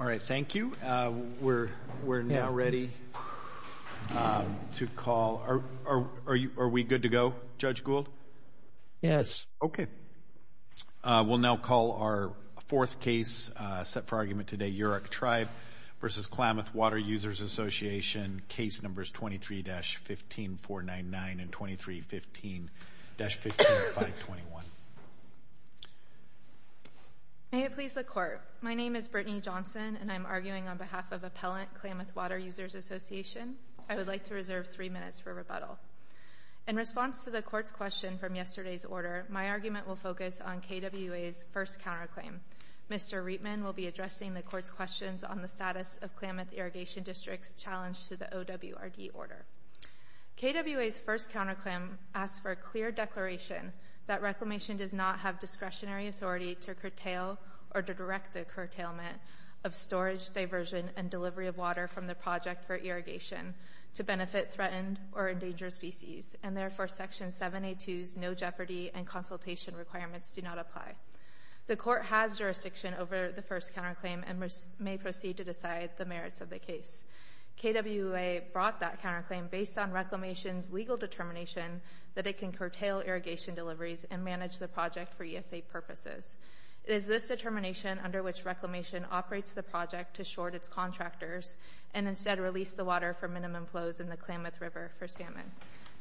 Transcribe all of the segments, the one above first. All right. Thank you. We're now ready to call... Are we good to go, Judge Gould? Yes. Okay. We'll now call our fourth case set for argument today, Yurok Tribe v. Klamath Water Users Association, case numbers 23-15-499 and 23-15-15-521. May it please the Court, my name is Brittany Johnson and I'm arguing on behalf of Appellant Klamath Water Users Association. I would like to reserve three minutes for rebuttal. In response to the Court's question from yesterday's order, my argument will focus on KWA's first counterclaim. Mr. Reitman will be addressing the Court's questions on the status of Klamath Irrigation District's challenge to the OWRD order. KWA's first counterclaim asks for a clear declaration that reclamation does not have discretionary authority to curtail or to direct the curtailment of storage, diversion, and delivery of water from the project for irrigation to benefit threatened or endangered species and therefore Section 7A2's no jeopardy and consultation requirements do not apply. The Court has jurisdiction over the first counterclaim and may proceed to decide the merits of the case. KWA brought that counterclaim based on reclamation's legal determination that it can curtail irrigation deliveries and manage the project for ESA purposes. It is this determination under which reclamation operates the project to short its contractors and instead release the water for minimum flows in the Klamath River for salmon.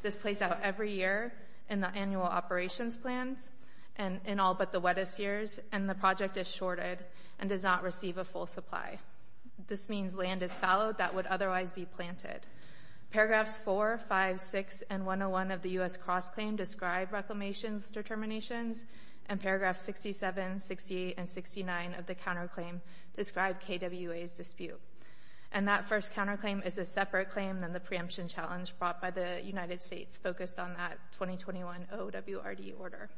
This plays out every year in the annual operations plans and in all but the wettest years and the project is shorted and does not receive a full supply. This means land is fallowed that would otherwise be planted. Paragraphs 4, 5, 6, and 101 of the U.S. Cross Claim describe reclamation's determinations and paragraphs 67, 68, and 69 of the counterclaim describe KWA's dispute. And that first counterclaim is a separate claim than the preemption challenge brought by the United States focused on that 2021 OWRD order.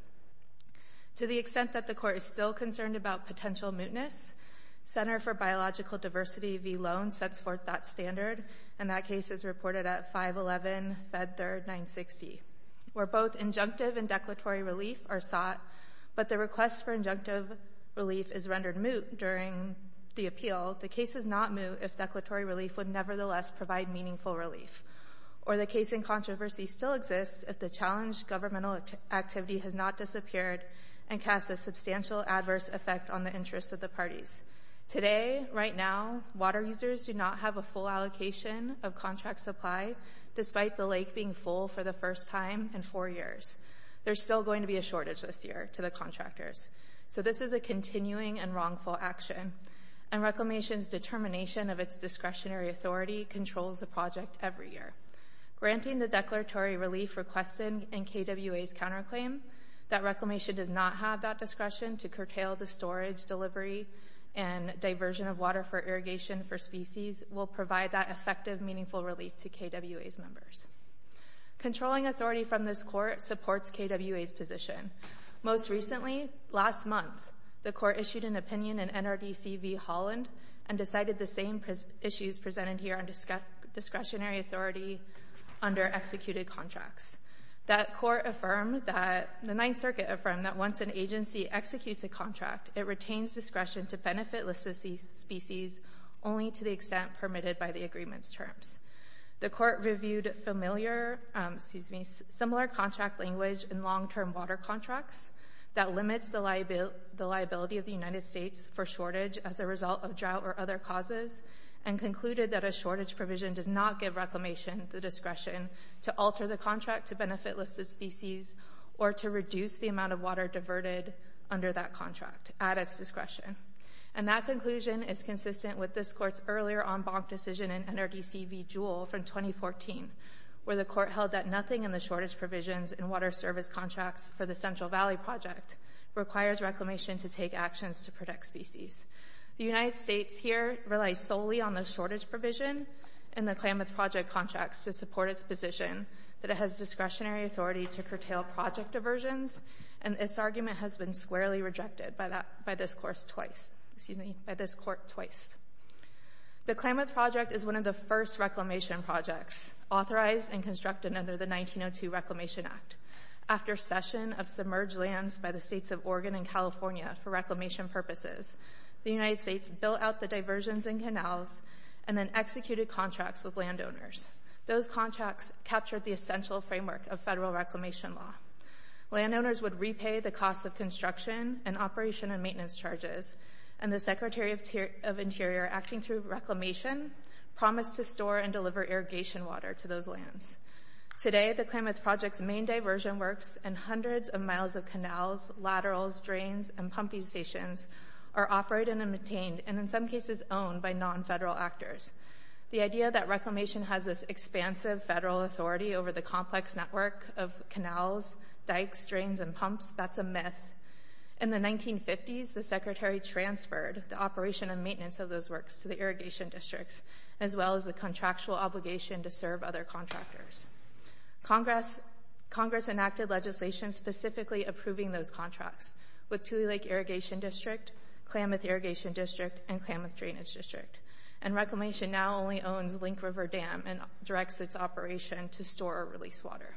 To the extent that the Court is still concerned about potential mootness, Center for Biological Diversity v. Loan sets forth that standard and that case is reported at 511 Fed 3rd 960 where both injunctive and declaratory relief are sought but the request for injunctive relief is rendered moot during the appeal. The case is not moot if declaratory relief would nevertheless provide meaningful relief or the case in controversy still exists if the challenged governmental activity has not disappeared and cast a substantial adverse effect on the interests of the parties. Today, right now, water users do not have a full allocation of contract supply despite the lake being full for the first time in four years. There's still going to be a shortage this year to the contractors so this is a continuing and wrongful action and reclamation's determination of its discretionary authority controls the project every year. Granting the declaratory relief requested in KWA's counterclaim that reclamation does not have that discretion to curtail the storage delivery and diversion of water for irrigation for species will provide that effective meaningful relief to KWA's members. Controlling authority from this court supports KWA's position. Most recently, last month, the court issued an opinion in NRDC v. Holland and decided the same issues presented here on discretionary authority under executed contracts. That court affirmed that the Ninth Circuit affirmed that once an agency executes a contract it retains discretion to benefit listed species only to the extent permitted by the agreement's terms. The court reviewed familiar, excuse me, similar contract language in long-term water contracts that limits the liability of the United States for shortage as a result of drought or other causes and concluded that a shortage provision does not give reclamation the discretion to alter the contract to benefit listed species or to reduce the amount of water diverted under that contract at its discretion and that conclusion is consistent with this court's earlier en banc decision in NRDC v. Jewell from 2014 where the court held that nothing in the shortage provisions and water service contracts for the Central Valley Project requires reclamation to take actions to protect species. The United States here relies solely on the shortage provision and the Klamath Project contracts to support its position that it has discretionary authority to curtail project diversions and this argument has been squarely excused by this court twice. The Klamath Project is one of the first reclamation projects authorized and constructed under the 1902 Reclamation Act. After a session of submerged lands by the states of Oregon and California for reclamation purposes, the United States built out the diversions and canals and then executed contracts with landowners. Those contracts captured the essential framework of federal reclamation law. Landowners would repay the and the Secretary of Interior acting through reclamation promised to store and deliver irrigation water to those lands. Today the Klamath Project's main diversion works and hundreds of miles of canals, laterals, drains and pumping stations are operated and maintained and in some cases owned by non-federal actors. The idea that reclamation has this expansive federal authority over the complex network of canals, dikes, drains and pumps, that's a myth. In the past, the Klamath Project transferred the operation and maintenance of those works to the irrigation districts as well as the contractual obligation to serve other contractors. Congress enacted legislation specifically approving those contracts with Tule Lake Irrigation District, Klamath Irrigation District and Klamath Drainage District and reclamation now only owns Link River Dam and directs its operation to store or release water.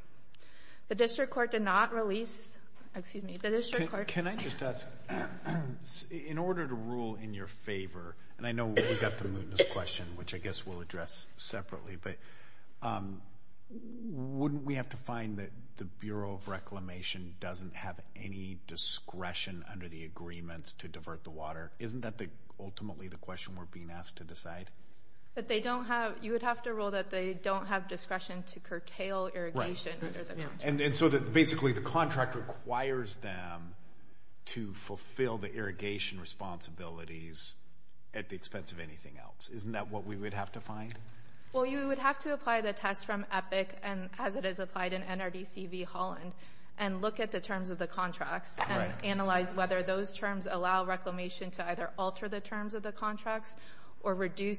The district court did not release, excuse me, the district court. Can I just ask, in order to rule in your favor, and I know we've got the mootness question which I guess we'll address separately, but wouldn't we have to find that the Bureau of Reclamation doesn't have any discretion under the agreements to divert the water? Isn't that the ultimately the question we're being asked to decide? That they don't have, you would have to rule that they don't have discretion to curtail irrigation. And so that basically the contract requires them to fulfill the irrigation responsibilities at the expense of anything else. Isn't that what we would have to find? Well, you would have to apply the test from EPIC and as it is applied in NRDC v. Holland and look at the terms of the contracts and analyze whether those terms allow reclamation to either alter the or re-describe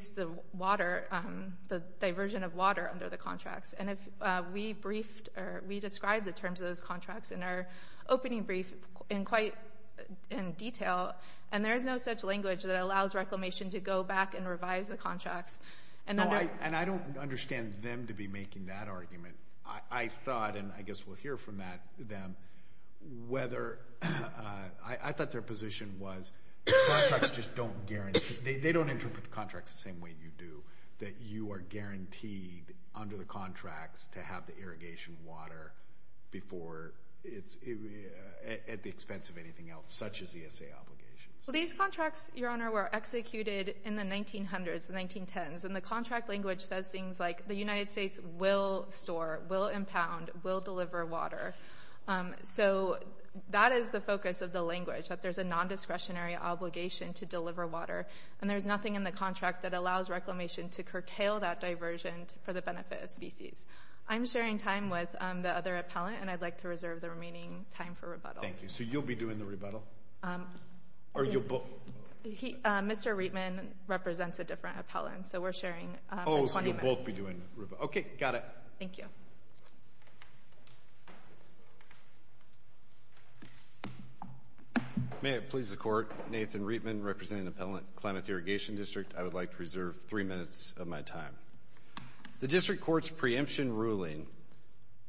the terms of those contracts in our opening brief in quite in detail. And there is no such language that allows reclamation to go back and revise the contracts. And I don't understand them to be making that argument. I thought, and I guess we'll hear from them, whether, I thought their position was the contracts just don't guarantee, they don't interpret the contracts the same way you do. That you are guaranteed under the contracts to have irrigation water before it's at the expense of anything else, such as ESA obligations. Well, these contracts, your honor, were executed in the 1900s and 1910s. And the contract language says things like the United States will store, will impound, will deliver water. So that is the focus of the language, that there's a non-discretionary obligation to deliver water. And there's nothing in the contract that allows reclamation to curtail that diversion for the benefit of species. I'm sharing time with the other appellant and I'd like to reserve the remaining time for rebuttal. Thank you. So you'll be doing the rebuttal? Mr. Reitman represents a different appellant, so we're sharing 20 minutes. Oh, so you'll both be doing rebuttal. Okay, got it. Thank you. May it please the court, Nathan Reitman representing the Appellant Climate Irrigation District, I would like to reserve three minutes of my time. The district court's preemption ruling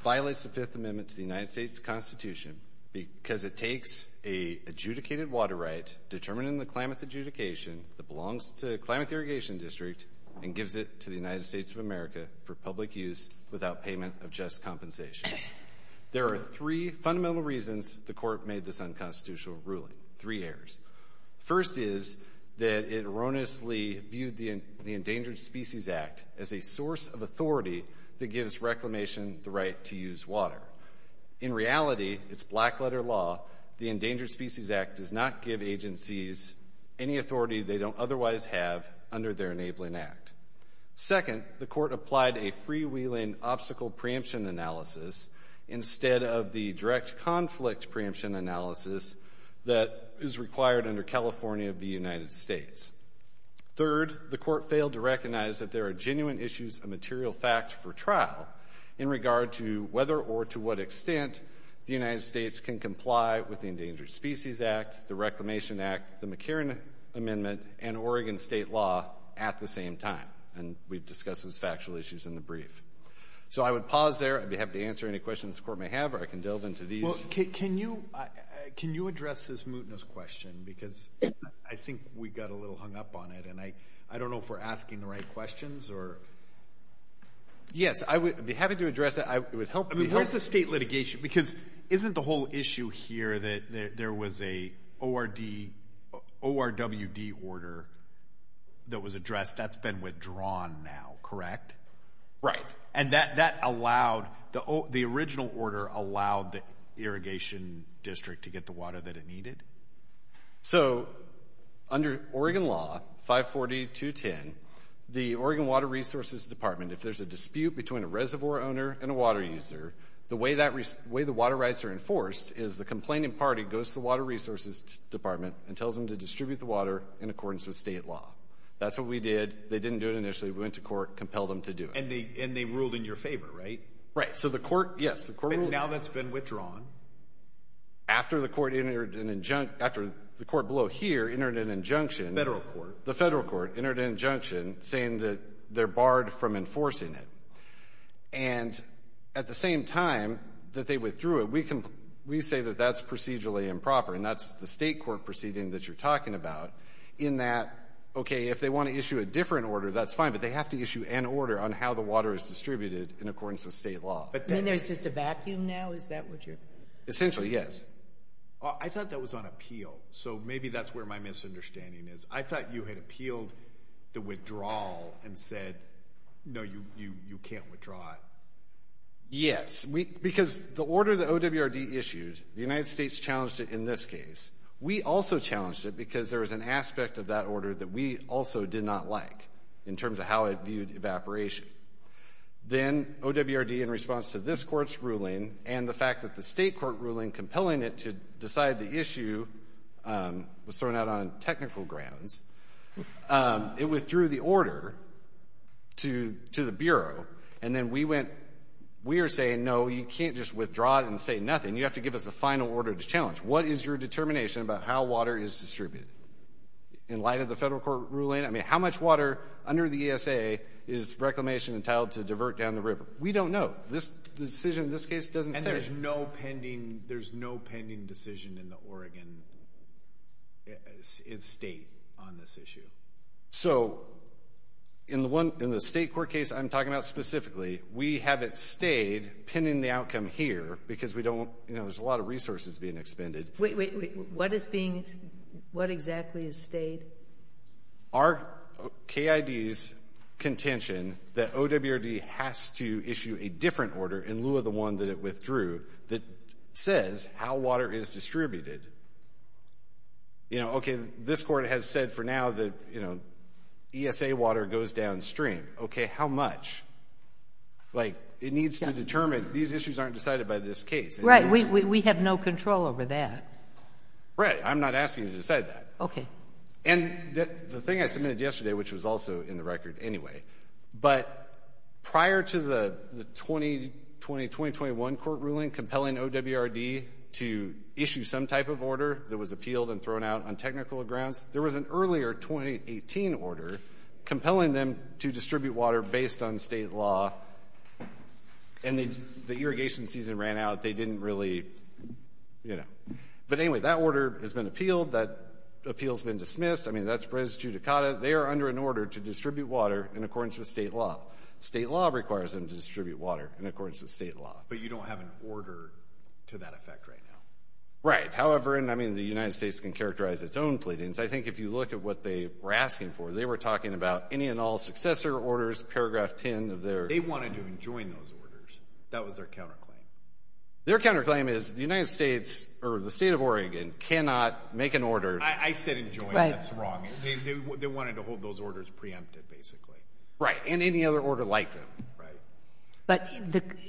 violates the Fifth Amendment to the United States Constitution because it takes a adjudicated water right determining the climate adjudication that belongs to the Climate Irrigation District and gives it to the United States of America for public use without payment of just compensation. There are three fundamental reasons the court made this unconstitutional ruling, three errors. First is that it erroneously viewed the Endangered Species Act as a source of authority that gives reclamation the right to use water. In reality, it's black letter law, the Endangered Species Act does not give agencies any authority they don't otherwise have under their enabling act. Second, the court applied a freewheeling obstacle preemption analysis instead of the direct conflict preemption analysis that is required under California of the United States. Third, the court failed to recognize that there are genuine issues of material fact for trial in regard to whether or to what extent the United States can comply with the Endangered Species Act, the Reclamation Act, the McCarran Amendment, and Oregon State Law at the same time. And we've discussed those factual issues in the brief. So I would pause there. I'd be happy to answer any questions the court may have or I can delve into these. Well, can you address this mootness question? Because I think we got a little hung up on it and I don't know if we're asking the right questions or... Yes, I would be happy to address it. It would help me. Where's the state litigation? Because isn't the whole issue here that there was a ORWD order that was addressed? That's been withdrawn now, correct? Right. And that allowed, the original order allowed the irrigation district to get the water that it needed? So under Oregon law, 540.210, the Oregon Water Resources Department, if there's a dispute between a reservoir owner and a water user, the way the water rights are enforced is the complaining party goes to the Water Resources Department and tells them to distribute the water in accordance with state law. That's what we did. They didn't do it initially. We went to court, compelled them to do it. And they ruled in your favor, right? Right. So the court, yes, the court ruled. And now that's been withdrawn? After the court entered an injunction, after the court below here entered an injunction. Federal court. The federal court entered an injunction saying that they're barred from enforcing it. And at the same time that they withdrew it, we say that that's procedurally improper. And that's the state court proceeding that you're talking about in that, okay, if they want to issue a different order, that's fine, but they have to issue an order on how the water is distributed in accordance with state law. There's just a vacuum now? Is that what you're... Essentially, yes. I thought that was on appeal. So maybe that's where my misunderstanding is. I thought you had appealed the withdrawal and said, no, you can't withdraw it. Yes, because the order that OWRD issued, the United States challenged it in this case. We also challenged it because there was an aspect of that order that we also did not like in terms of how it viewed evaporation. Then OWRD in response to this court's ruling and the fact that the state court ruling compelling it to decide the issue was thrown out on technical grounds, it withdrew the order to the Bureau. And then we went, we are saying, no, you can't just withdraw it and say nothing. You have to give us a final order to challenge. What is your determination about how water is distributed? In light of the federal court ruling, how much water under the ESA is Reclamation entitled to divert down the river? We don't know. The decision in this case doesn't say. And there's no pending decision in the Oregon state on this issue? So in the state court case I'm talking about specifically, we have it stayed pending the outcome here because there's a lot of resources being expended. What is being, what exactly is stayed? Our KID's contention that OWRD has to issue a different order in lieu of the one that it withdrew that says how water is distributed. You know, okay, this court has said for now that, you know, ESA water goes downstream. Okay, how much? Like it needs to determine, these issues aren't decided by this case. Right. We have no control over that. Right. I'm not asking you to decide that. Okay. And the thing I submitted yesterday, which was also in the record anyway, but prior to the 2021 court ruling compelling OWRD to issue some type of order that was appealed and thrown out on technical grounds, there was an earlier 2018 order compelling them to distribute water based on state law. And the irrigation season ran out. They didn't really, you know. But anyway, that order has been appealed. That appeal's been dismissed. I mean, that's res judicata. They are under an order to distribute water in accordance with state law. State law requires them to distribute water in accordance with state law. But you don't have an order to that effect right now. Right. However, and I mean, the United States can characterize its own pleadings. I think if you look at what they were asking for, they were talking about any and all successor orders, paragraph 10 of their. They wanted to enjoin those orders. That was their counterclaim. Their counterclaim is the United States or the state of Oregon cannot make an order. I said enjoin. That's wrong. They wanted to hold those orders preempted, basically. Right. And any other order like them. Right. But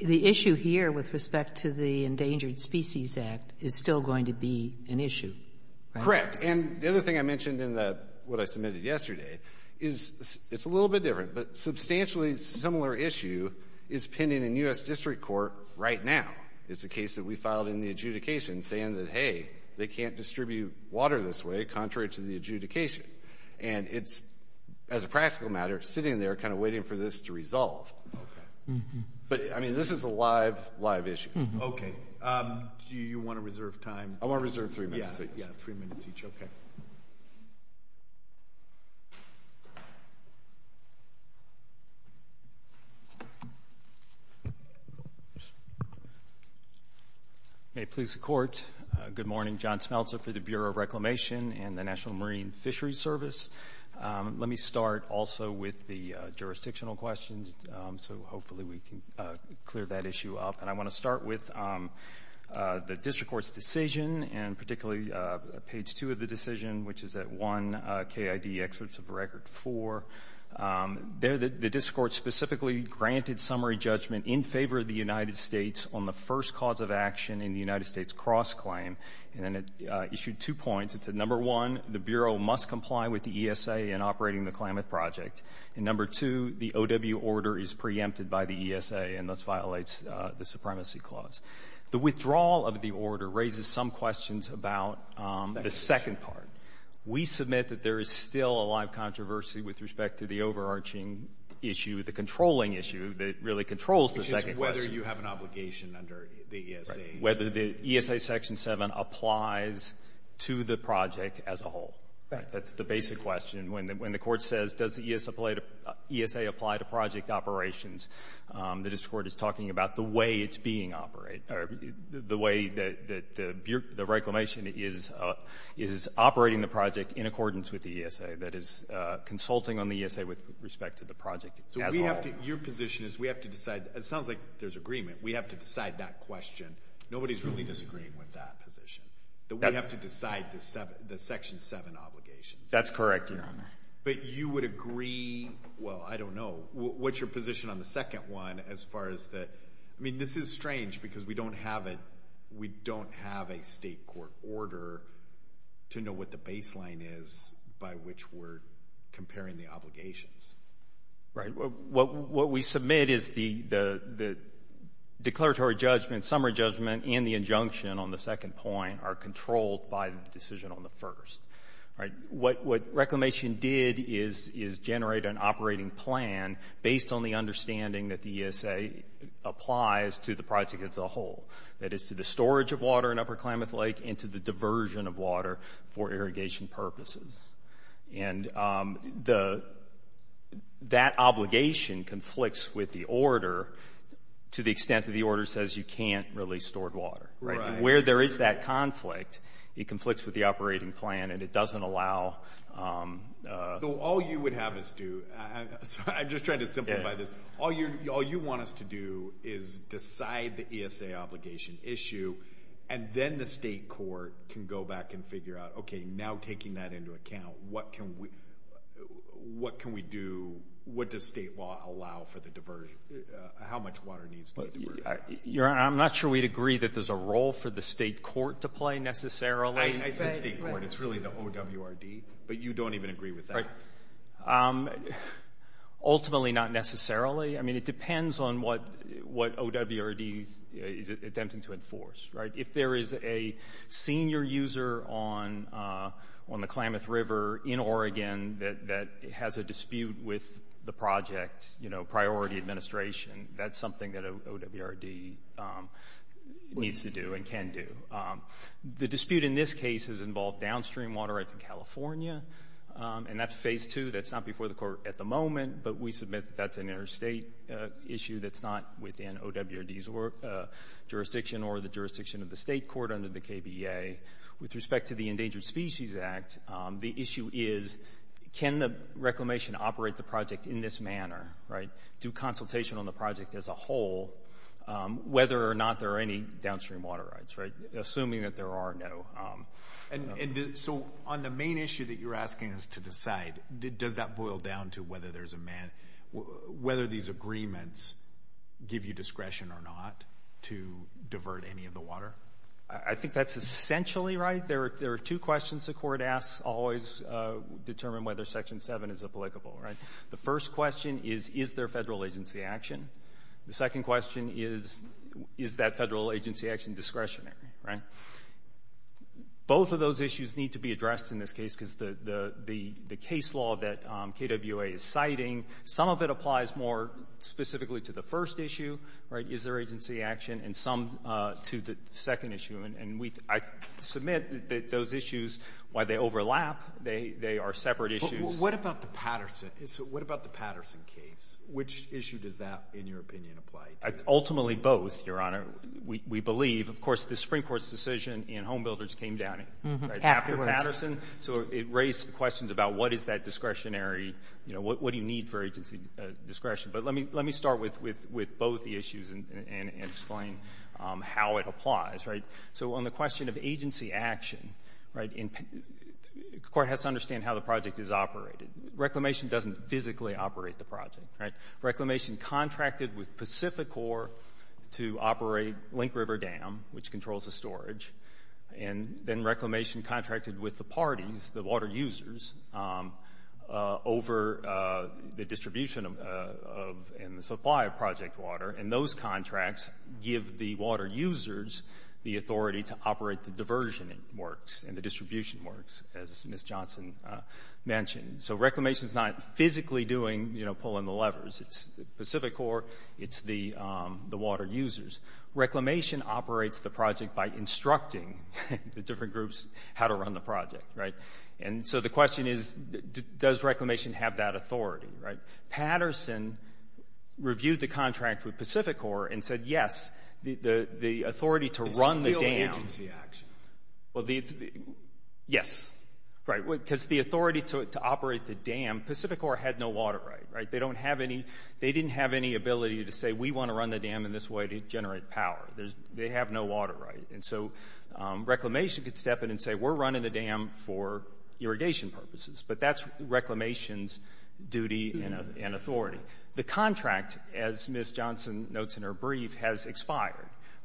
the issue here with respect to the Endangered Species Act is still going to be an issue. Correct. And the other thing I mentioned in what I submitted yesterday is it's a little bit different, but substantially similar issue is pending in U.S. District Court right now. It's a case that we filed in the adjudication saying that, hey, they can't distribute water this way, contrary to the adjudication. And it's, as a practical matter, sitting there kind of waiting for this to resolve. Okay. But I mean, this is a live, live issue. Okay. Do you want to reserve time? I want to reserve three minutes. Yeah, three minutes each. Okay. May it please the Court. Good morning. John Smeltzer for the Bureau of Reclamation and the National Marine Fisheries Service. Let me start also with the jurisdictional questions. So hopefully we can clear that issue up. And I want to start with the District Court's decision, and particularly page two of the decision, which is at 1 KID excerpt of Record 4. There the District Court specifically granted summary judgment in favor of the United States on the first cause of action in the United States cross-claim. And then it issued two points. It said, number one, the Bureau must comply with the ESA in operating the Klamath Project. And number two, the O.W. order is preempted by the ESA and thus violates the questions about the second part. We submit that there is still a lot of controversy with respect to the overarching issue, the controlling issue that really controls the second question. Which is whether you have an obligation under the ESA. Right. Whether the ESA section 7 applies to the project as a whole. Right. That's the basic question. When the Court says, does the ESA apply to project operations, the District Court is reclamation is operating the project in accordance with the ESA. That is consulting on the ESA with respect to the project as a whole. So we have to, your position is we have to decide, it sounds like there's agreement, we have to decide that question. Nobody's really disagreeing with that position. That we have to decide the section 7 obligations. That's correct, Your Honor. But you would agree, well, I don't know. What's your position on the second one as far as the, I mean, this is strange because we don't have it, we don't have a State Court order to know what the baseline is by which we're comparing the obligations. Right. What we submit is the declaratory judgment, summary judgment, and the injunction on the second point are controlled by the decision on the first. Right. What reclamation did is generate an operating plan based on the understanding that the ESA applies to the project as a whole. That is to the storage of water in Upper Klamath Lake and to the diversion of water for irrigation purposes. And that obligation conflicts with the order to the extent that the order says you can't release stored water. Right. Where there is that conflict, it conflicts with the operating plan and it doesn't allow. So all you would have us do, I'm just trying to simplify this, all you want us to do is decide the ESA obligation issue and then the State Court can go back and figure out, okay, now taking that into account, what can we do, what does State law allow for the diversion, how much water needs to be diverted? Your Honor, I'm not sure we'd agree that there's a role for the State Court to play necessarily. I said State Court, it's really the OWRD, but you don't even agree with that. Ultimately, not necessarily. I mean, it depends on what OWRD is attempting to enforce, right? If there is a senior user on the Klamath River in Oregon that has a dispute with the project, you know, priority administration, that's something that an OWRD needs to do and can do. The dispute in this case has involved downstream water rights in California, and that's Phase 2. That's not before the Court at the moment, but we submit that that's an interstate issue that's not within OWRD's jurisdiction or the jurisdiction of the State Court under the KBEA. With respect to the Endangered Species Act, the issue is, can the reclamation operate the project in this manner, right? Do consultation on the project as a whole, whether or not there are any assuming that there are no. And so, on the main issue that you're asking us to decide, does that boil down to whether there's a man, whether these agreements give you discretion or not to divert any of the water? I think that's essentially right. There are two questions the Court asks always determine whether Section 7 is applicable, right? The first question is, is there Federal agency action? The second question is, is that Federal agency action discretionary, right? Both of those issues need to be addressed in this case because the case law that KWA is citing, some of it applies more specifically to the first issue, right, is there agency action, and some to the second issue. And I submit that those issues, while they overlap, they are separate issues. What about the Patterson case? Which issue does that, in your opinion, apply to? Ultimately, both, Your Honor. We believe, of course, the Supreme Court's decision in Home Builders came down after Patterson, so it raised questions about what is that discretionary, you know, what do you need for agency discretion? But let me start with both the issues and explain how it applies, right? So on the question of agency action, right, the Court has to understand how the project is operated. Reclamation doesn't physically operate the project, right? Reclamation contracted with Pacificor to operate Link River Dam, which controls the storage, and then Reclamation contracted with the parties, the water users, over the distribution of and the supply of project water, and those contracts give the water users the authority to operate the diversion works and the distribution works, as Ms. Johnson mentioned. So Reclamation's not physically doing, you know, pulling the levers. It's Pacificor, it's the water users. Reclamation operates the project by instructing the different groups how to run the project, right? And so the question is, does Reclamation have that authority, right? Patterson reviewed the contract with Pacificor and said, yes, the authority to run the dam. It's still agency action. Well, yes, right, because the authority to operate the dam, Pacificor had no water right, right? They don't have any, they didn't have any ability to say, we want to run the dam in this way to generate power. They have no water right, and so Reclamation could step in and say, we're running the dam for irrigation purposes, but that's Reclamation's duty and authority. The contract, as Ms. Johnson notes in her brief, has expired,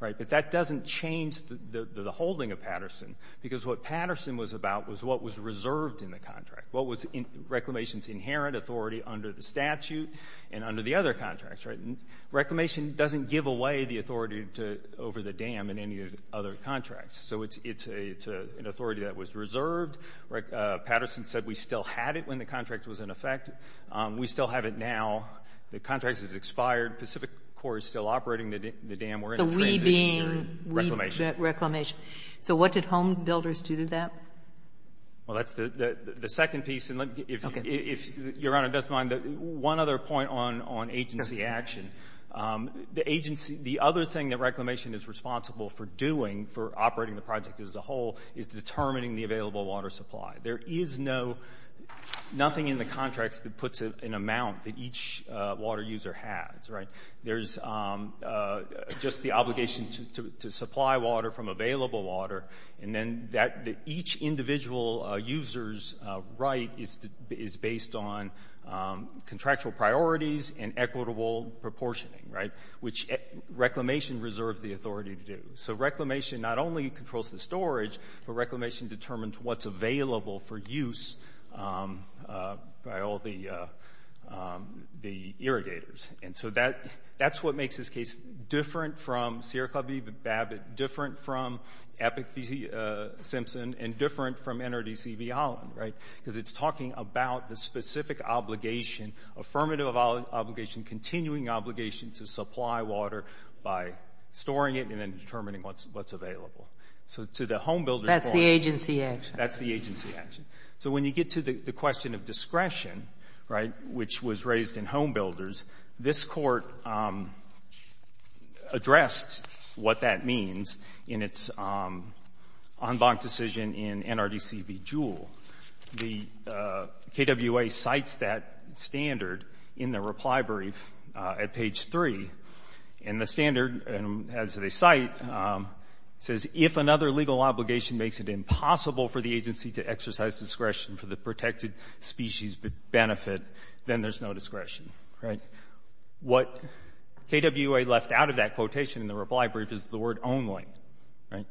right? But that doesn't change the holding of Patterson, because what Patterson was about was what was reserved in the contract. What was Reclamation's inherent authority under the statute and under the other contracts, right? And Reclamation doesn't give away the authority to, over the dam and any other contracts. So it's an authority that was reserved. Patterson said we still had it when the contract was in effect. We still have it now. The contract has expired. Pacificor is still operating the dam. We're in a transition. So what did home builders do to that? Well, that's the second piece, and if Your Honor doesn't mind, one other point on agency action. The agency, the other thing that Reclamation is responsible for doing for operating the project as a whole is determining the available water supply. There is nothing in the contracts that puts an amount that each water user has, right? There's just the obligation to supply water from available water, and then each individual user's right is based on contractual priorities and equitable proportioning, right? Which Reclamation reserved the authority to do. So Reclamation not only controls the storage, but Reclamation determines what's available for use by all the irrigators. And so that's what makes this case different from Sierra Clubby, the Babbitt, different from Epic-Simpson, and different from NRDC v. Holland, right? Because it's talking about the specific obligation, affirmative obligation, continuing obligation to supply water by storing it and then determining what's available. So to the home builder's point, that's the agency action. That's the agency action. So when you get to the question of discretion, right, which was raised in home builders, this Court addressed what that means in its en banc decision in NRDC v. Jewell. The KWA cites that standard in the reply brief at page 3. And the standard, as they cite, says, if another legal obligation makes it impossible for the agency to exercise discretion for the protected species benefit, then there's no discretion, right? What KWA left out of that quotation in the reply brief is the word only, right?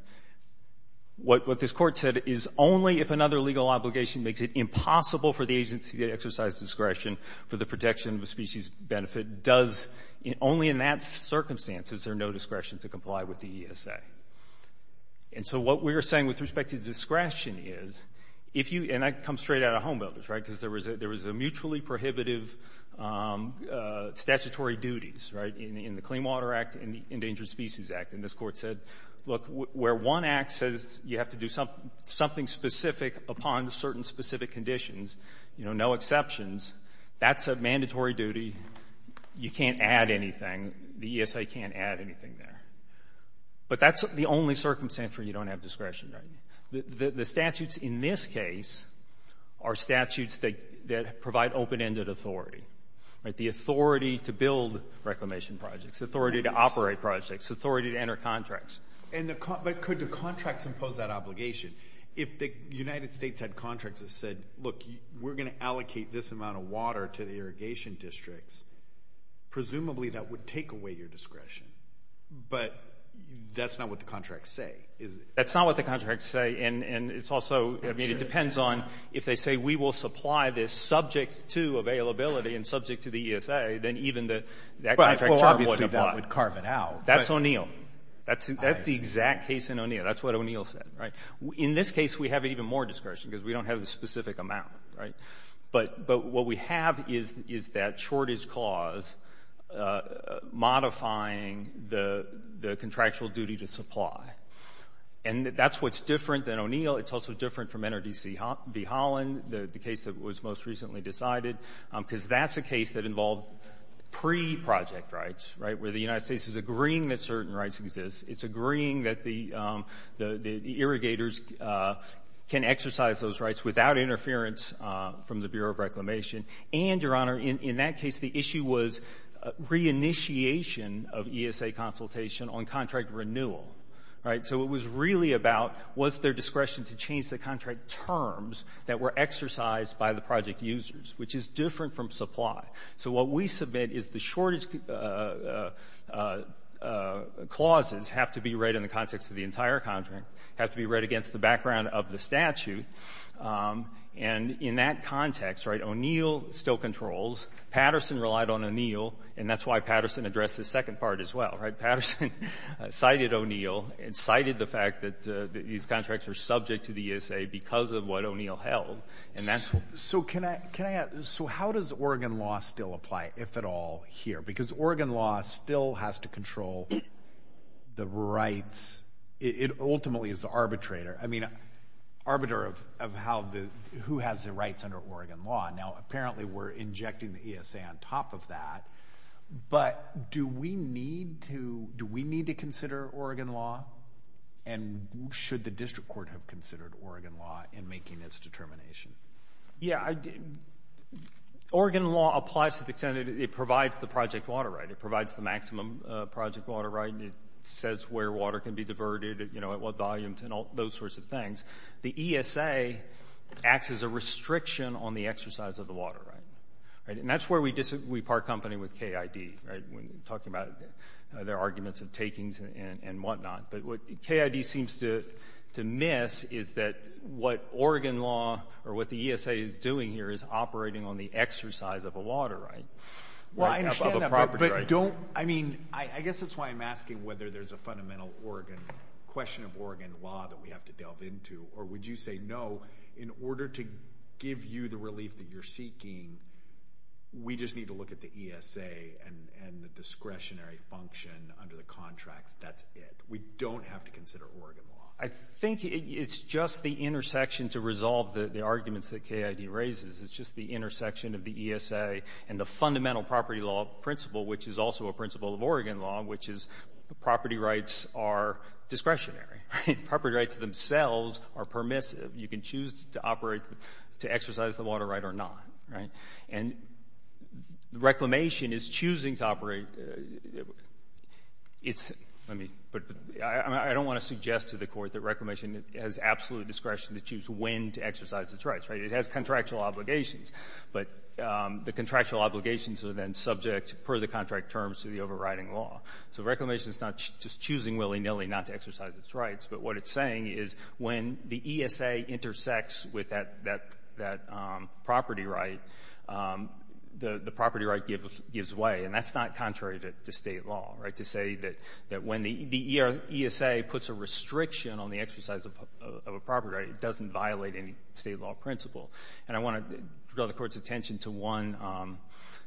What this Court said is only if another legal obligation makes it impossible for the agency to exercise discretion for the protection of a species benefit does only in that circumstance is there no discretion to comply with the ESA. And so what we're saying with respect to discretion is, if you, and I come straight out of home builders, right, because there was a mutually prohibitive statutory duties, right, in the Clean Water Act and the Endangered Species Act. And this Court said, look, where one act says you have to do something specific upon certain specific conditions, you know, no exceptions, that's a mandatory duty. You can't add anything. The ESA can't add anything there. But that's the only circumstance where you don't have discretion, right? The statutes in this case are statutes that provide open-ended authority, right, the authority to build reclamation projects, the authority to operate projects, the authority to enter contracts. And the, but could the contracts impose that obligation? If the United States had contracts that said, look, we're going to allocate this amount of water to the irrigation districts, presumably that would take away your discretion. But that's not what the contracts say, is it? That's not what the contracts say. And it's also, I mean, it depends on if they say we will supply this subject to availability and subject to the ESA, then even the, that contract would apply. That's O'Neill. That's the exact case in O'Neill. That's what O'Neill said, right? In this case, we have even more discretion because we don't have a specific amount, right? But what we have is that shortage clause modifying the contractual duty to supply. And that's what's different than O'Neill. It's also different from NRDC v. Holland, the case that was most recently decided, because that's a case that involved pre-project rights, right, where the United States is agreeing that certain rights exist. It's agreeing that the irrigators can exercise those rights without interference from the Bureau of Reclamation. And, Your Honor, in that case, the issue was reinitiation of ESA consultation on contract renewal, right? So it was really about was there discretion to change the contract terms that were exercised by the project users, which is different from supply. So what we submit is the shortage clauses have to be read in the context of the entire contract, have to be read against the background of the statute. And in that context, right, O'Neill still controls. Patterson relied on O'Neill, and that's why Patterson addressed the second part as well, right? Patterson cited O'Neill and cited the fact that these contracts are subject to the ESA because of what O'Neill held. And that's what — So how does Oregon law still apply, if at all, here? Because Oregon law still has to control the rights. It ultimately is the arbitrator. I mean, arbiter of who has the rights under Oregon law. Now, apparently, we're injecting the ESA on top of that. But do we need to consider Oregon law? And should the district court have considered Oregon law in making this determination? Yeah. Oregon law applies to the extent that it provides the project water right. It provides the maximum project water right. It says where water can be diverted, you know, at what volumes and all those sorts of things. The ESA acts as a restriction on the exercise of the water right. And that's where we part company with KID, right, when talking about their arguments of takings and whatnot. But what KID seems to miss is that what Oregon law or what the ESA is doing here is operating on the exercise of a water right. Well, I understand that. But don't — I mean, I guess that's why I'm asking whether there's a fundamental Oregon — question of Oregon law that we have to delve into. Or would you say, no, in order to give you the relief that you're seeking, we just need to look at the ESA and the discretionary function under the contracts. That's it. We don't have to consider Oregon law. I think it's just the intersection to resolve the arguments that KID raises. It's just the intersection of the ESA and the fundamental property law principle, which is also a principle of Oregon law, which is property rights are discretionary, right? Property rights themselves are permissive. You can choose to operate — to exercise the water right or not, right? And reclamation is choosing to operate — it's — let me — but I don't want to suggest to the Court that reclamation has absolute discretion to choose when to exercise its rights, right? It has contractual obligations. But the contractual obligations are then subject, per the contract terms, to the overriding law. So reclamation is not just choosing willy-nilly not to exercise its rights. But what it's saying is when the ESA intersects with that property right, the property right gives way. And that's not contrary to State law, right, to say that when the ESA puts a restriction on the exercise of a property right, it doesn't violate any State law principle. And I want to draw the Court's attention to one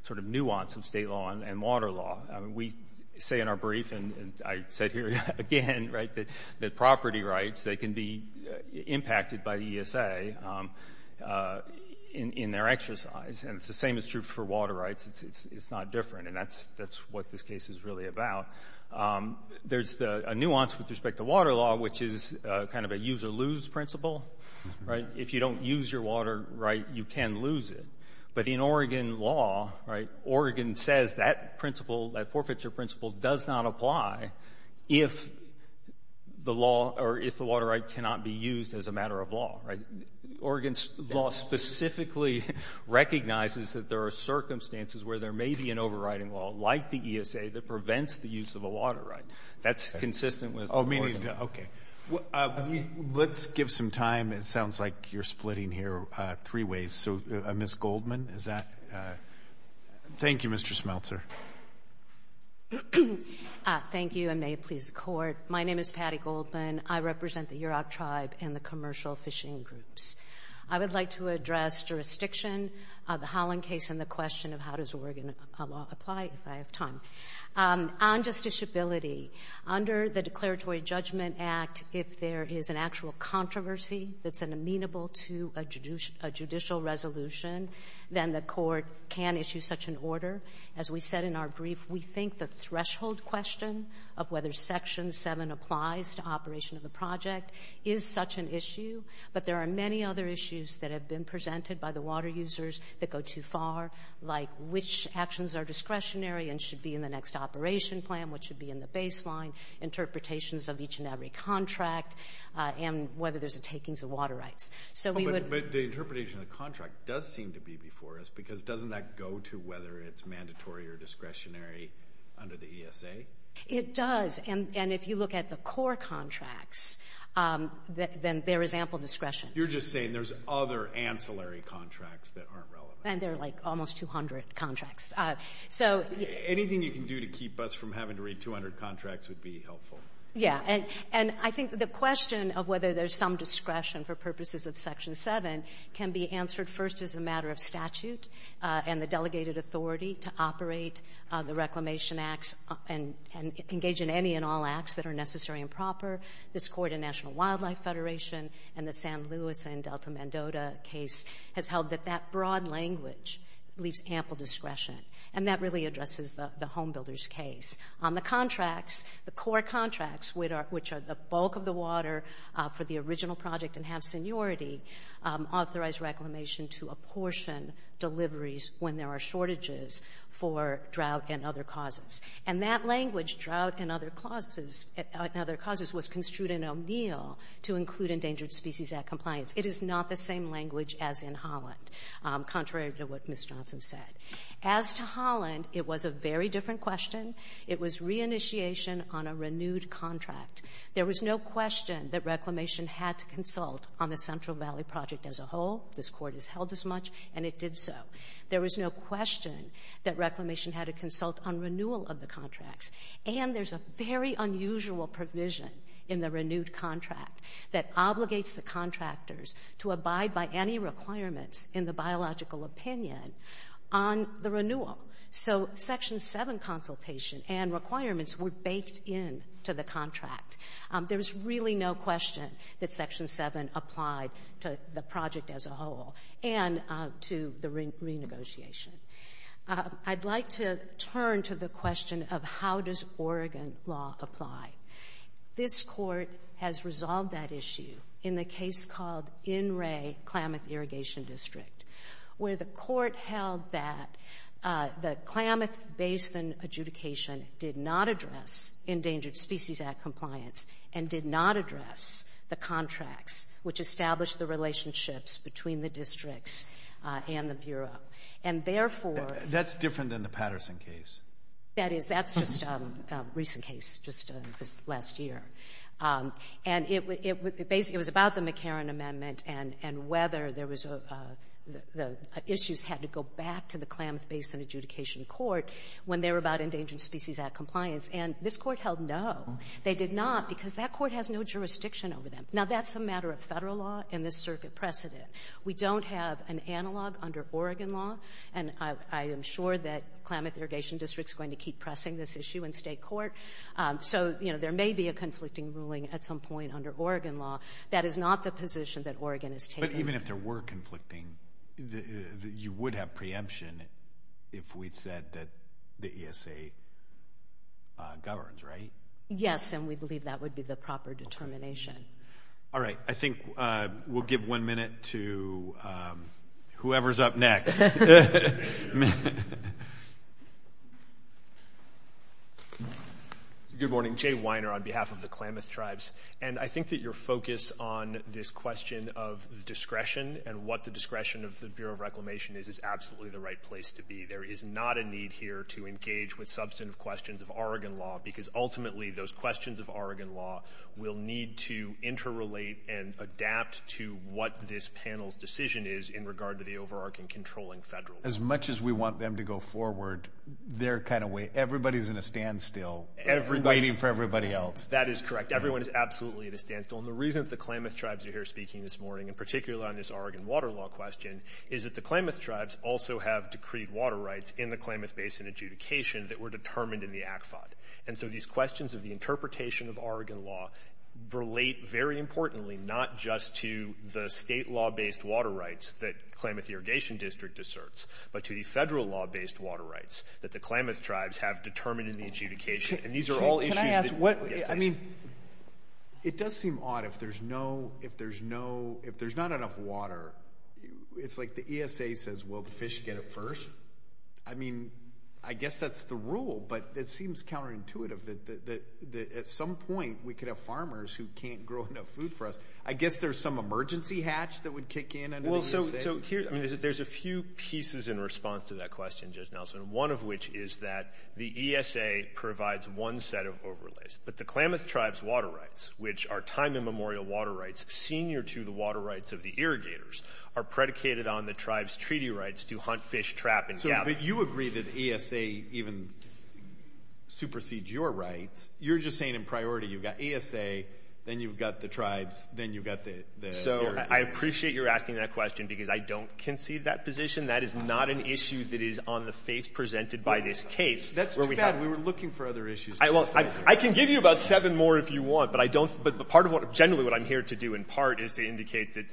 sort of nuance of State law and water law. We say in our brief, and I said here again, right, that property rights, they can be impacted by the ESA in their exercise. And it's the same is true for water rights. It's not different. And that's what this case is really about. There's a nuance with respect to water law, which is kind of a use-or-lose principle, right? If you don't use your water right, you can lose it. But in Oregon law, right, Oregon says that principle, that forfeiture principle, does not apply if the law — or if the water right cannot be used as a matter of law, right? Oregon's law specifically recognizes that there are circumstances where there may be an overriding law, like the ESA, that prevents the use of a water right. That's consistent with Oregon. Oh, meaning — okay. Let's give some time. It sounds like you're splitting here three ways. So, Ms. Goldman, is that — thank you, Mr. Smeltzer. Thank you, and may it please the Court. My name is Patti Goldman. I represent the Yurok Tribe and the Commercial Fishing Groups. I would like to address jurisdiction of the Holland case and the question of how does Oregon law apply, if I have time. On justiciability, under the Declaratory Judgment Act, if there is an actual controversy that's amenable to a judicial resolution, then the Court can issue such an order. As we said in our brief, we think the threshold question of whether Section 7 applies to operation of the project is such an issue, but there are many other issues that have been presented by the water users that go too far, like which actions are discretionary and should be in the next operation plan, what should be in the baseline, interpretations of each and every contract, and whether there's a takings of water rights. So we would — But the interpretation of the contract does seem to be before us, because doesn't that go to whether it's mandatory or discretionary under the ESA? It does. And if you look at the core contracts, then there is ample discretion. You're just saying there's other ancillary contracts that aren't relevant. And there are, like, almost 200 contracts. So — Anything you can do to keep us from having to read 200 contracts would be helpful. Yeah. And I think the question of whether there's some discretion for purposes of Section 7 can be answered first as a matter of statute and the delegated authority to operate the Reclamation Acts and engage in any and all acts that are necessary and proper. This Court in National Wildlife Federation and the San Luis and Delta Mandota case has held that that broad language leaves ample discretion. And that really addresses the homebuilders case. On the contracts, the core contracts, which are the bulk of the water for the original project and have seniority, authorize Reclamation to apportion deliveries when there are shortages for drought and other causes. And that language, drought and other causes, was construed in O'Neill to include Endangered Species Act compliance. It is not the same language as in Holland, contrary to what Ms. Johnson said. As to Holland, it was a very different question. It was reinitiation on a renewed contract. There was no question that Reclamation had to consult on the Central Valley project as a whole. This Court has held as much, and it did so. There was no question that Reclamation had to consult on renewal of the contracts. And there's a very unusual provision in the renewed contract that obligates the contractors to abide by any requirements in the biological opinion on the renewal. So Section 7 consultation and requirements were baked into the contract. There was really no question that Section 7 applied to the project as a whole and to the renegotiation. I'd like to turn to the question of how does Oregon law apply. This Court has resolved that issue in the case called In Re, Klamath Irrigation District, where the Court held that the Klamath Basin adjudication did not address Endangered Species Act compliance and did not address the contracts which established the relationships between the districts and the Bureau. And therefore... That's different than the Patterson case. That is. That's just a recent case, just this last year. And it was about the McCarran Amendment and whether the issues had to go back to the Klamath Basin adjudication court when they were about Endangered Species Act compliance. And this Court held no. They did not because that court has no jurisdiction over them. Now, that's a matter of Federal law and this Circuit precedent. We don't have an analog under Oregon law, and I am sure that Klamath Irrigation District is going to keep pressing this issue in State court. So, you know, there may be a conflicting ruling at some point under Oregon law. That is not the position that Oregon has taken. But even if there were conflicting, you would have preemption if we'd said that the ESA governs, right? Yes, and we believe that would be the proper determination. All right. I think we'll give one minute to whoever's up next. Good morning. Jay Weiner on behalf of the Klamath Tribes. And I think that your focus on this question of discretion and what the discretion of the Bureau of Reclamation is, is absolutely the right place to be. There is not a need here to engage with substantive questions of Oregon law because ultimately those questions of Oregon law will need to interrelate and adapt to what this panel's decision is in regard to the overarching controlling Federal. As much as we want them to go forward their kind of way, everybody's in a standstill. Everybody. Waiting for everybody else. That is correct. Everyone is absolutely at a standstill. And the reason that the Klamath Tribes are here speaking this morning, in particular on this Oregon water law question, is that the Klamath Tribes also have decreed water rights in the Klamath Basin adjudication that were determined in the ACFOD. And so these questions of the interpretation of Oregon law relate very importantly not just to the state law-based water rights that Klamath Irrigation District asserts, but to the federal law-based water rights that the Klamath Tribes have determined in the adjudication. And these are all issues that... I mean, it does seem odd if there's no, if there's no, if there's not enough water, it's like the ESA says, well, the fish get it first. I mean, I guess that's the rule, but it seems counterintuitive that at some point we could have farmers who can't grow enough food for us. I guess there's some emergency hatch that would kick in under the ESA. Well, so here, I mean, there's a few pieces in response to that question, Judge Nelson, one of which is that the ESA provides one set of overlays. But the Klamath Tribes water rights, which are time immemorial water rights, senior to the water rights of the irrigators, are predicated on the tribe's treaty rights to hunt, fish, trap, and gather. But you agree that ESA even supersedes your rights. You're just saying in priority, you've got ESA, then you've got the tribes, then you've got the... I appreciate you're asking that question because I don't concede that position. That is not an issue that is on the face presented by this case. That's too bad. We were looking for other issues. I can give you about seven more if you want, but I don't, but part of what, generally, what I'm here to do in part is to indicate that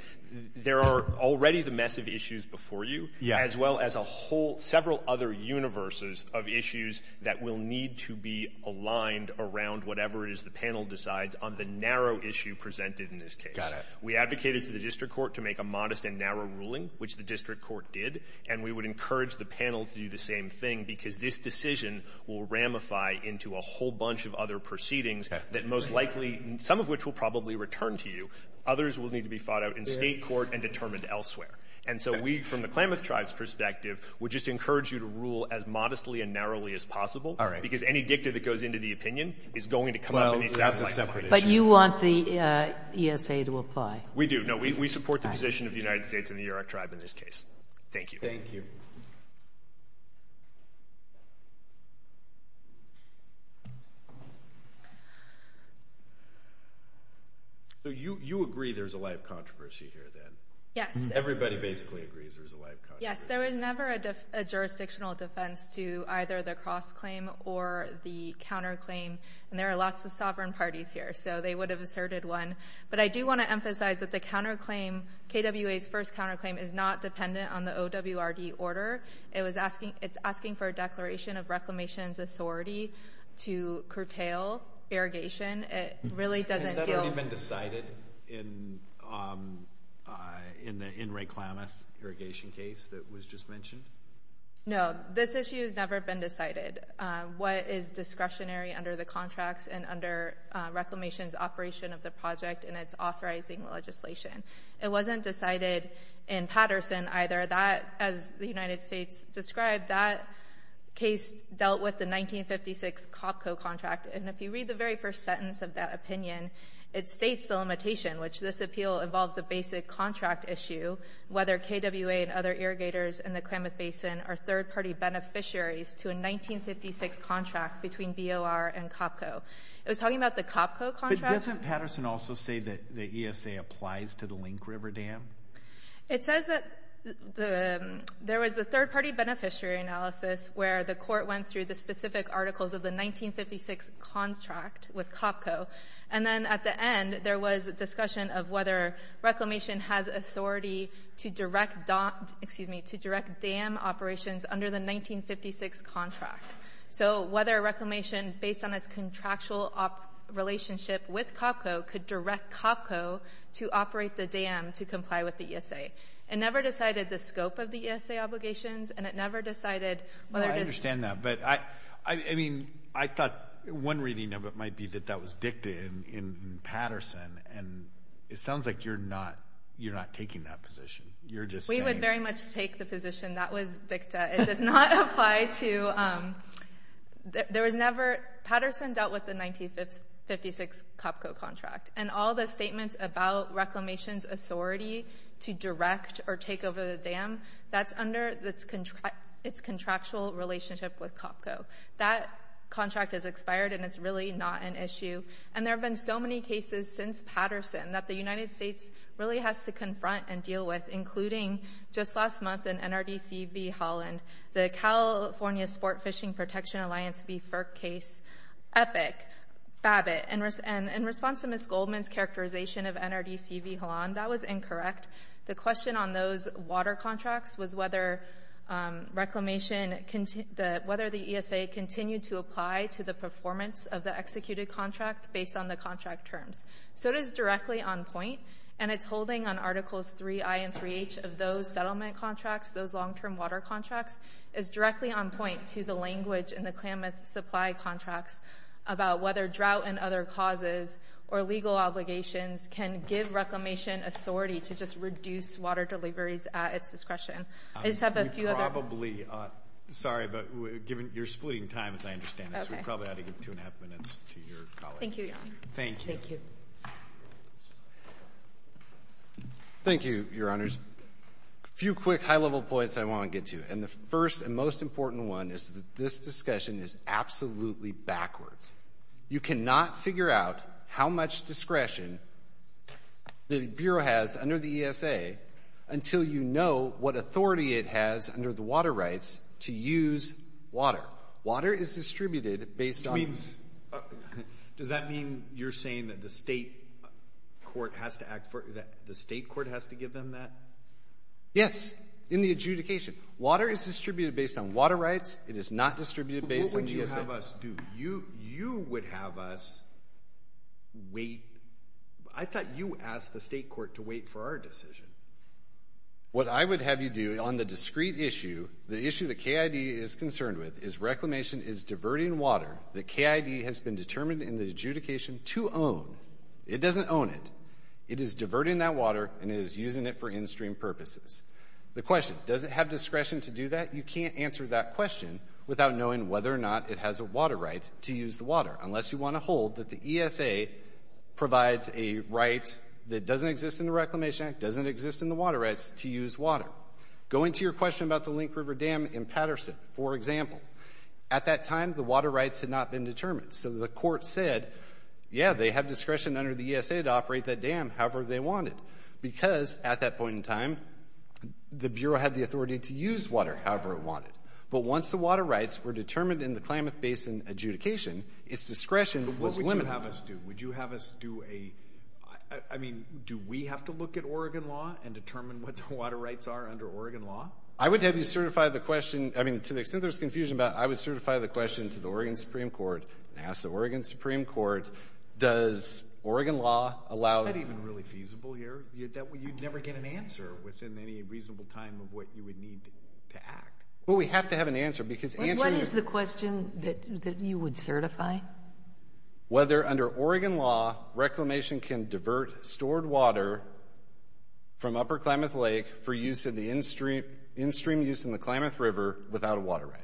there are already the massive issues before you, as well as a whole, several other universes of issues that will need to be aligned around whatever it is the panel decides on the narrow issue presented in this case. We advocated to the district court to make a modest and narrow ruling, which the district court did, and we would encourage the panel to do the same thing because this decision will ramify into a whole bunch of other proceedings that most likely, some of which will probably return to you. Others will need to be fought out in state court and determined elsewhere. And so we, from the Klamath tribe's perspective, would just encourage you to rule as modestly and narrowly as possible because any dicta that goes into the opinion is going to come up in the South. But you want the ESA to apply? We do. No, we support the position of the United States and the Yurok tribe in this case. Thank you. Thank you. So you agree there's a lot of controversy here, then? Yes. Everybody basically agrees there's a lot of controversy. Yes. There was never a jurisdictional defense to either the cross-claim or the counter-claim, and there are lots of sovereign parties here, so they would have asserted one. But I do want to emphasize that the counter-claim, KWA's first counter-claim, is not dependent on the OWRD order. It's asking for a declaration of reclamation's authority to curtail irrigation. It really doesn't deal— In the N. Ray Klamath irrigation case that was just mentioned? No. This issue has never been decided. What is discretionary under the contracts and under reclamation's operation of the project and its authorizing legislation? It wasn't decided in Patterson either. That, as the United States described, that case dealt with the 1956 COPCO contract. And if you read the very first sentence of that opinion, it states the limitation, which this appeal involves a basic contract issue, whether KWA and other irrigators in the Klamath Basin are third-party beneficiaries to a 1956 contract between BOR and COPCO. It was talking about the COPCO contract. But doesn't Patterson also say that the ESA applies to the Link River Dam? It says that there was a third-party beneficiary analysis where the court went through the specific contract with COPCO. And then at the end, there was a discussion of whether reclamation has authority to direct dam operations under the 1956 contract. So whether reclamation, based on its contractual relationship with COPCO, could direct COPCO to operate the dam to comply with the ESA. It never decided the scope of the ESA obligations, and it never decided whether— But I mean, I thought one reading of it might be that that was dicta in Patterson. And it sounds like you're not taking that position. You're just saying— We would very much take the position that was dicta. It does not apply to—there was never— Patterson dealt with the 1956 COPCO contract. And all the statements about reclamation's authority to direct or take over the dam, that's under its contractual relationship with COPCO. That contract has expired, and it's really not an issue. And there have been so many cases since Patterson that the United States really has to confront and deal with, including just last month in NRDC v. Holland, the California Sport Fishing Protection Alliance v. FERC case, Epic, Babbitt. And in response to Ms. Goldman's characterization of NRDC v. Holland, that was incorrect. The question on those water contracts was whether reclamation—whether the ESA continued to apply to the performance of the executed contract based on the contract terms. So it is directly on point, and it's holding on Articles 3i and 3h of those settlement contracts, those long-term water contracts, is directly on point to the language in the Klamath supply contracts about whether drought and other causes or legal obligations can give reclamation authority to just reduce water deliveries at its discretion. I just have a few other— We probably—sorry, but you're splitting time, as I understand it, so we probably ought to give two and a half minutes to your colleagues. Thank you, Your Honor. Thank you. Thank you, Your Honors. A few quick high-level points I want to get to. And the first and most is absolutely backwards. You cannot figure out how much discretion the Bureau has under the ESA until you know what authority it has under the water rights to use water. Water is distributed based on— Does that mean you're saying that the state court has to act for—that the state court has to give them that? Yes, in the adjudication. Water is distributed based on water rights. It is not distributed based on— What would you have us do? You would have us wait—I thought you asked the state court to wait for our decision. What I would have you do on the discrete issue, the issue the KID is concerned with, is reclamation is diverting water that KID has been determined in the adjudication to own. It doesn't own it. It is diverting that water, and it is using it for in-stream purposes. The question, does it have discretion to do that? You can't answer that question without knowing whether or not it has a water right to use the water, unless you want to hold that the ESA provides a right that doesn't exist in the Reclamation Act, doesn't exist in the water rights to use water. Go into your question about the Link River Dam in Patterson, for example. At that time, the water rights had not been determined. So the court said, yeah, they have discretion under the ESA to operate that dam however they want it. Because at that point in time, the Bureau had the authority to use water however it wanted. But once the water rights were determined in the Klamath Basin adjudication, its discretion was limited. But what would you have us do? Would you have us do a—I mean, do we have to look at Oregon law and determine what the water rights are under Oregon law? I would have you certify the question—I mean, to the extent there's confusion about it, certify the question to the Oregon Supreme Court and ask the Oregon Supreme Court, does Oregon law allow— It's not even really feasible here. You'd never get an answer within any reasonable time of what you would need to act. Well, we have to have an answer because answering— What is the question that you would certify? Whether under Oregon law, reclamation can divert stored water from Upper Klamath Lake for use in in-stream use in the Klamath River without a water right.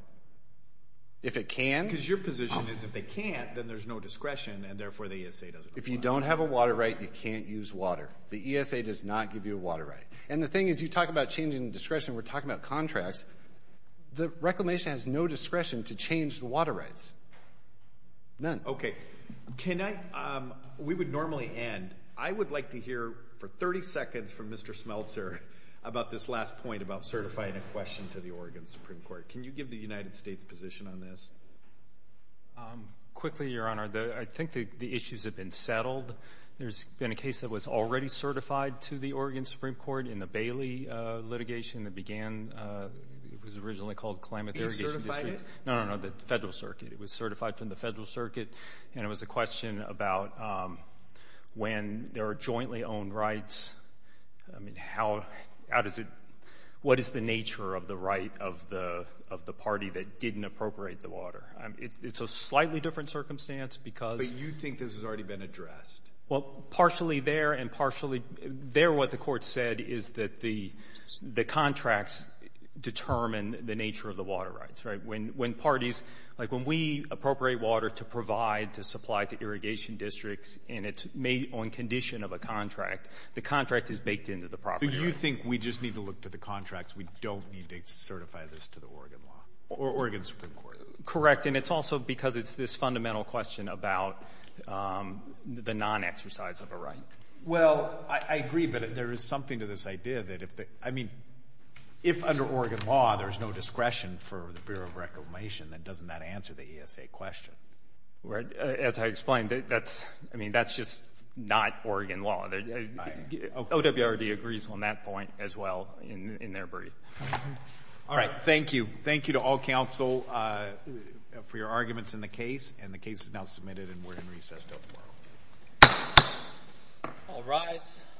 If it can— Because your position is if they can't, then there's no discretion and therefore the ESA doesn't apply. If you don't have a water right, you can't use water. The ESA does not give you a water right. And the thing is, you talk about changing discretion, we're talking about contracts. The reclamation has no discretion to change the water rights. None. Okay. Can I—we would normally end. I would like to hear for 30 seconds from Mr. Smeltzer about this last point about certifying a question to the Oregon Supreme Court. Can you give the United States position on this? Quickly, Your Honor. I think the issues have been settled. There's been a case that was already certified to the Oregon Supreme Court in the Bailey litigation that began—it was originally called Klamath Irrigation District. Is certified? No, no, no. The Federal Circuit. It was certified from the Federal Circuit. And it was a question about when there are jointly owned rights. I mean, how does it—what is the nature of the right of the party that didn't appropriate the water? It's a slightly different circumstance because— But you think this has already been addressed? Well, partially there and partially—there what the court said is that the contracts determine the nature of the water rights, right? When parties—like when we appropriate water to provide to supply to irrigation districts and it's made on condition of a contract, the contract is baked into the property right. Do you think we just need to look to the contracts? We don't need to certify this to the Oregon law or Oregon Supreme Court? Correct. And it's also because it's this fundamental question about the non-exercise of a right. Well, I agree, but there is something to this idea that if the—I mean, if under Oregon law, there's no discretion for the Bureau of Reclamation, then doesn't that answer the ESA question? As I explained, that's—I mean, that's just not Oregon law. OWRD agrees on that point as well in their brief. All right. Thank you. Thank you to all counsel for your arguments in the case. And the case is now submitted and we're in recess till tomorrow. All rise.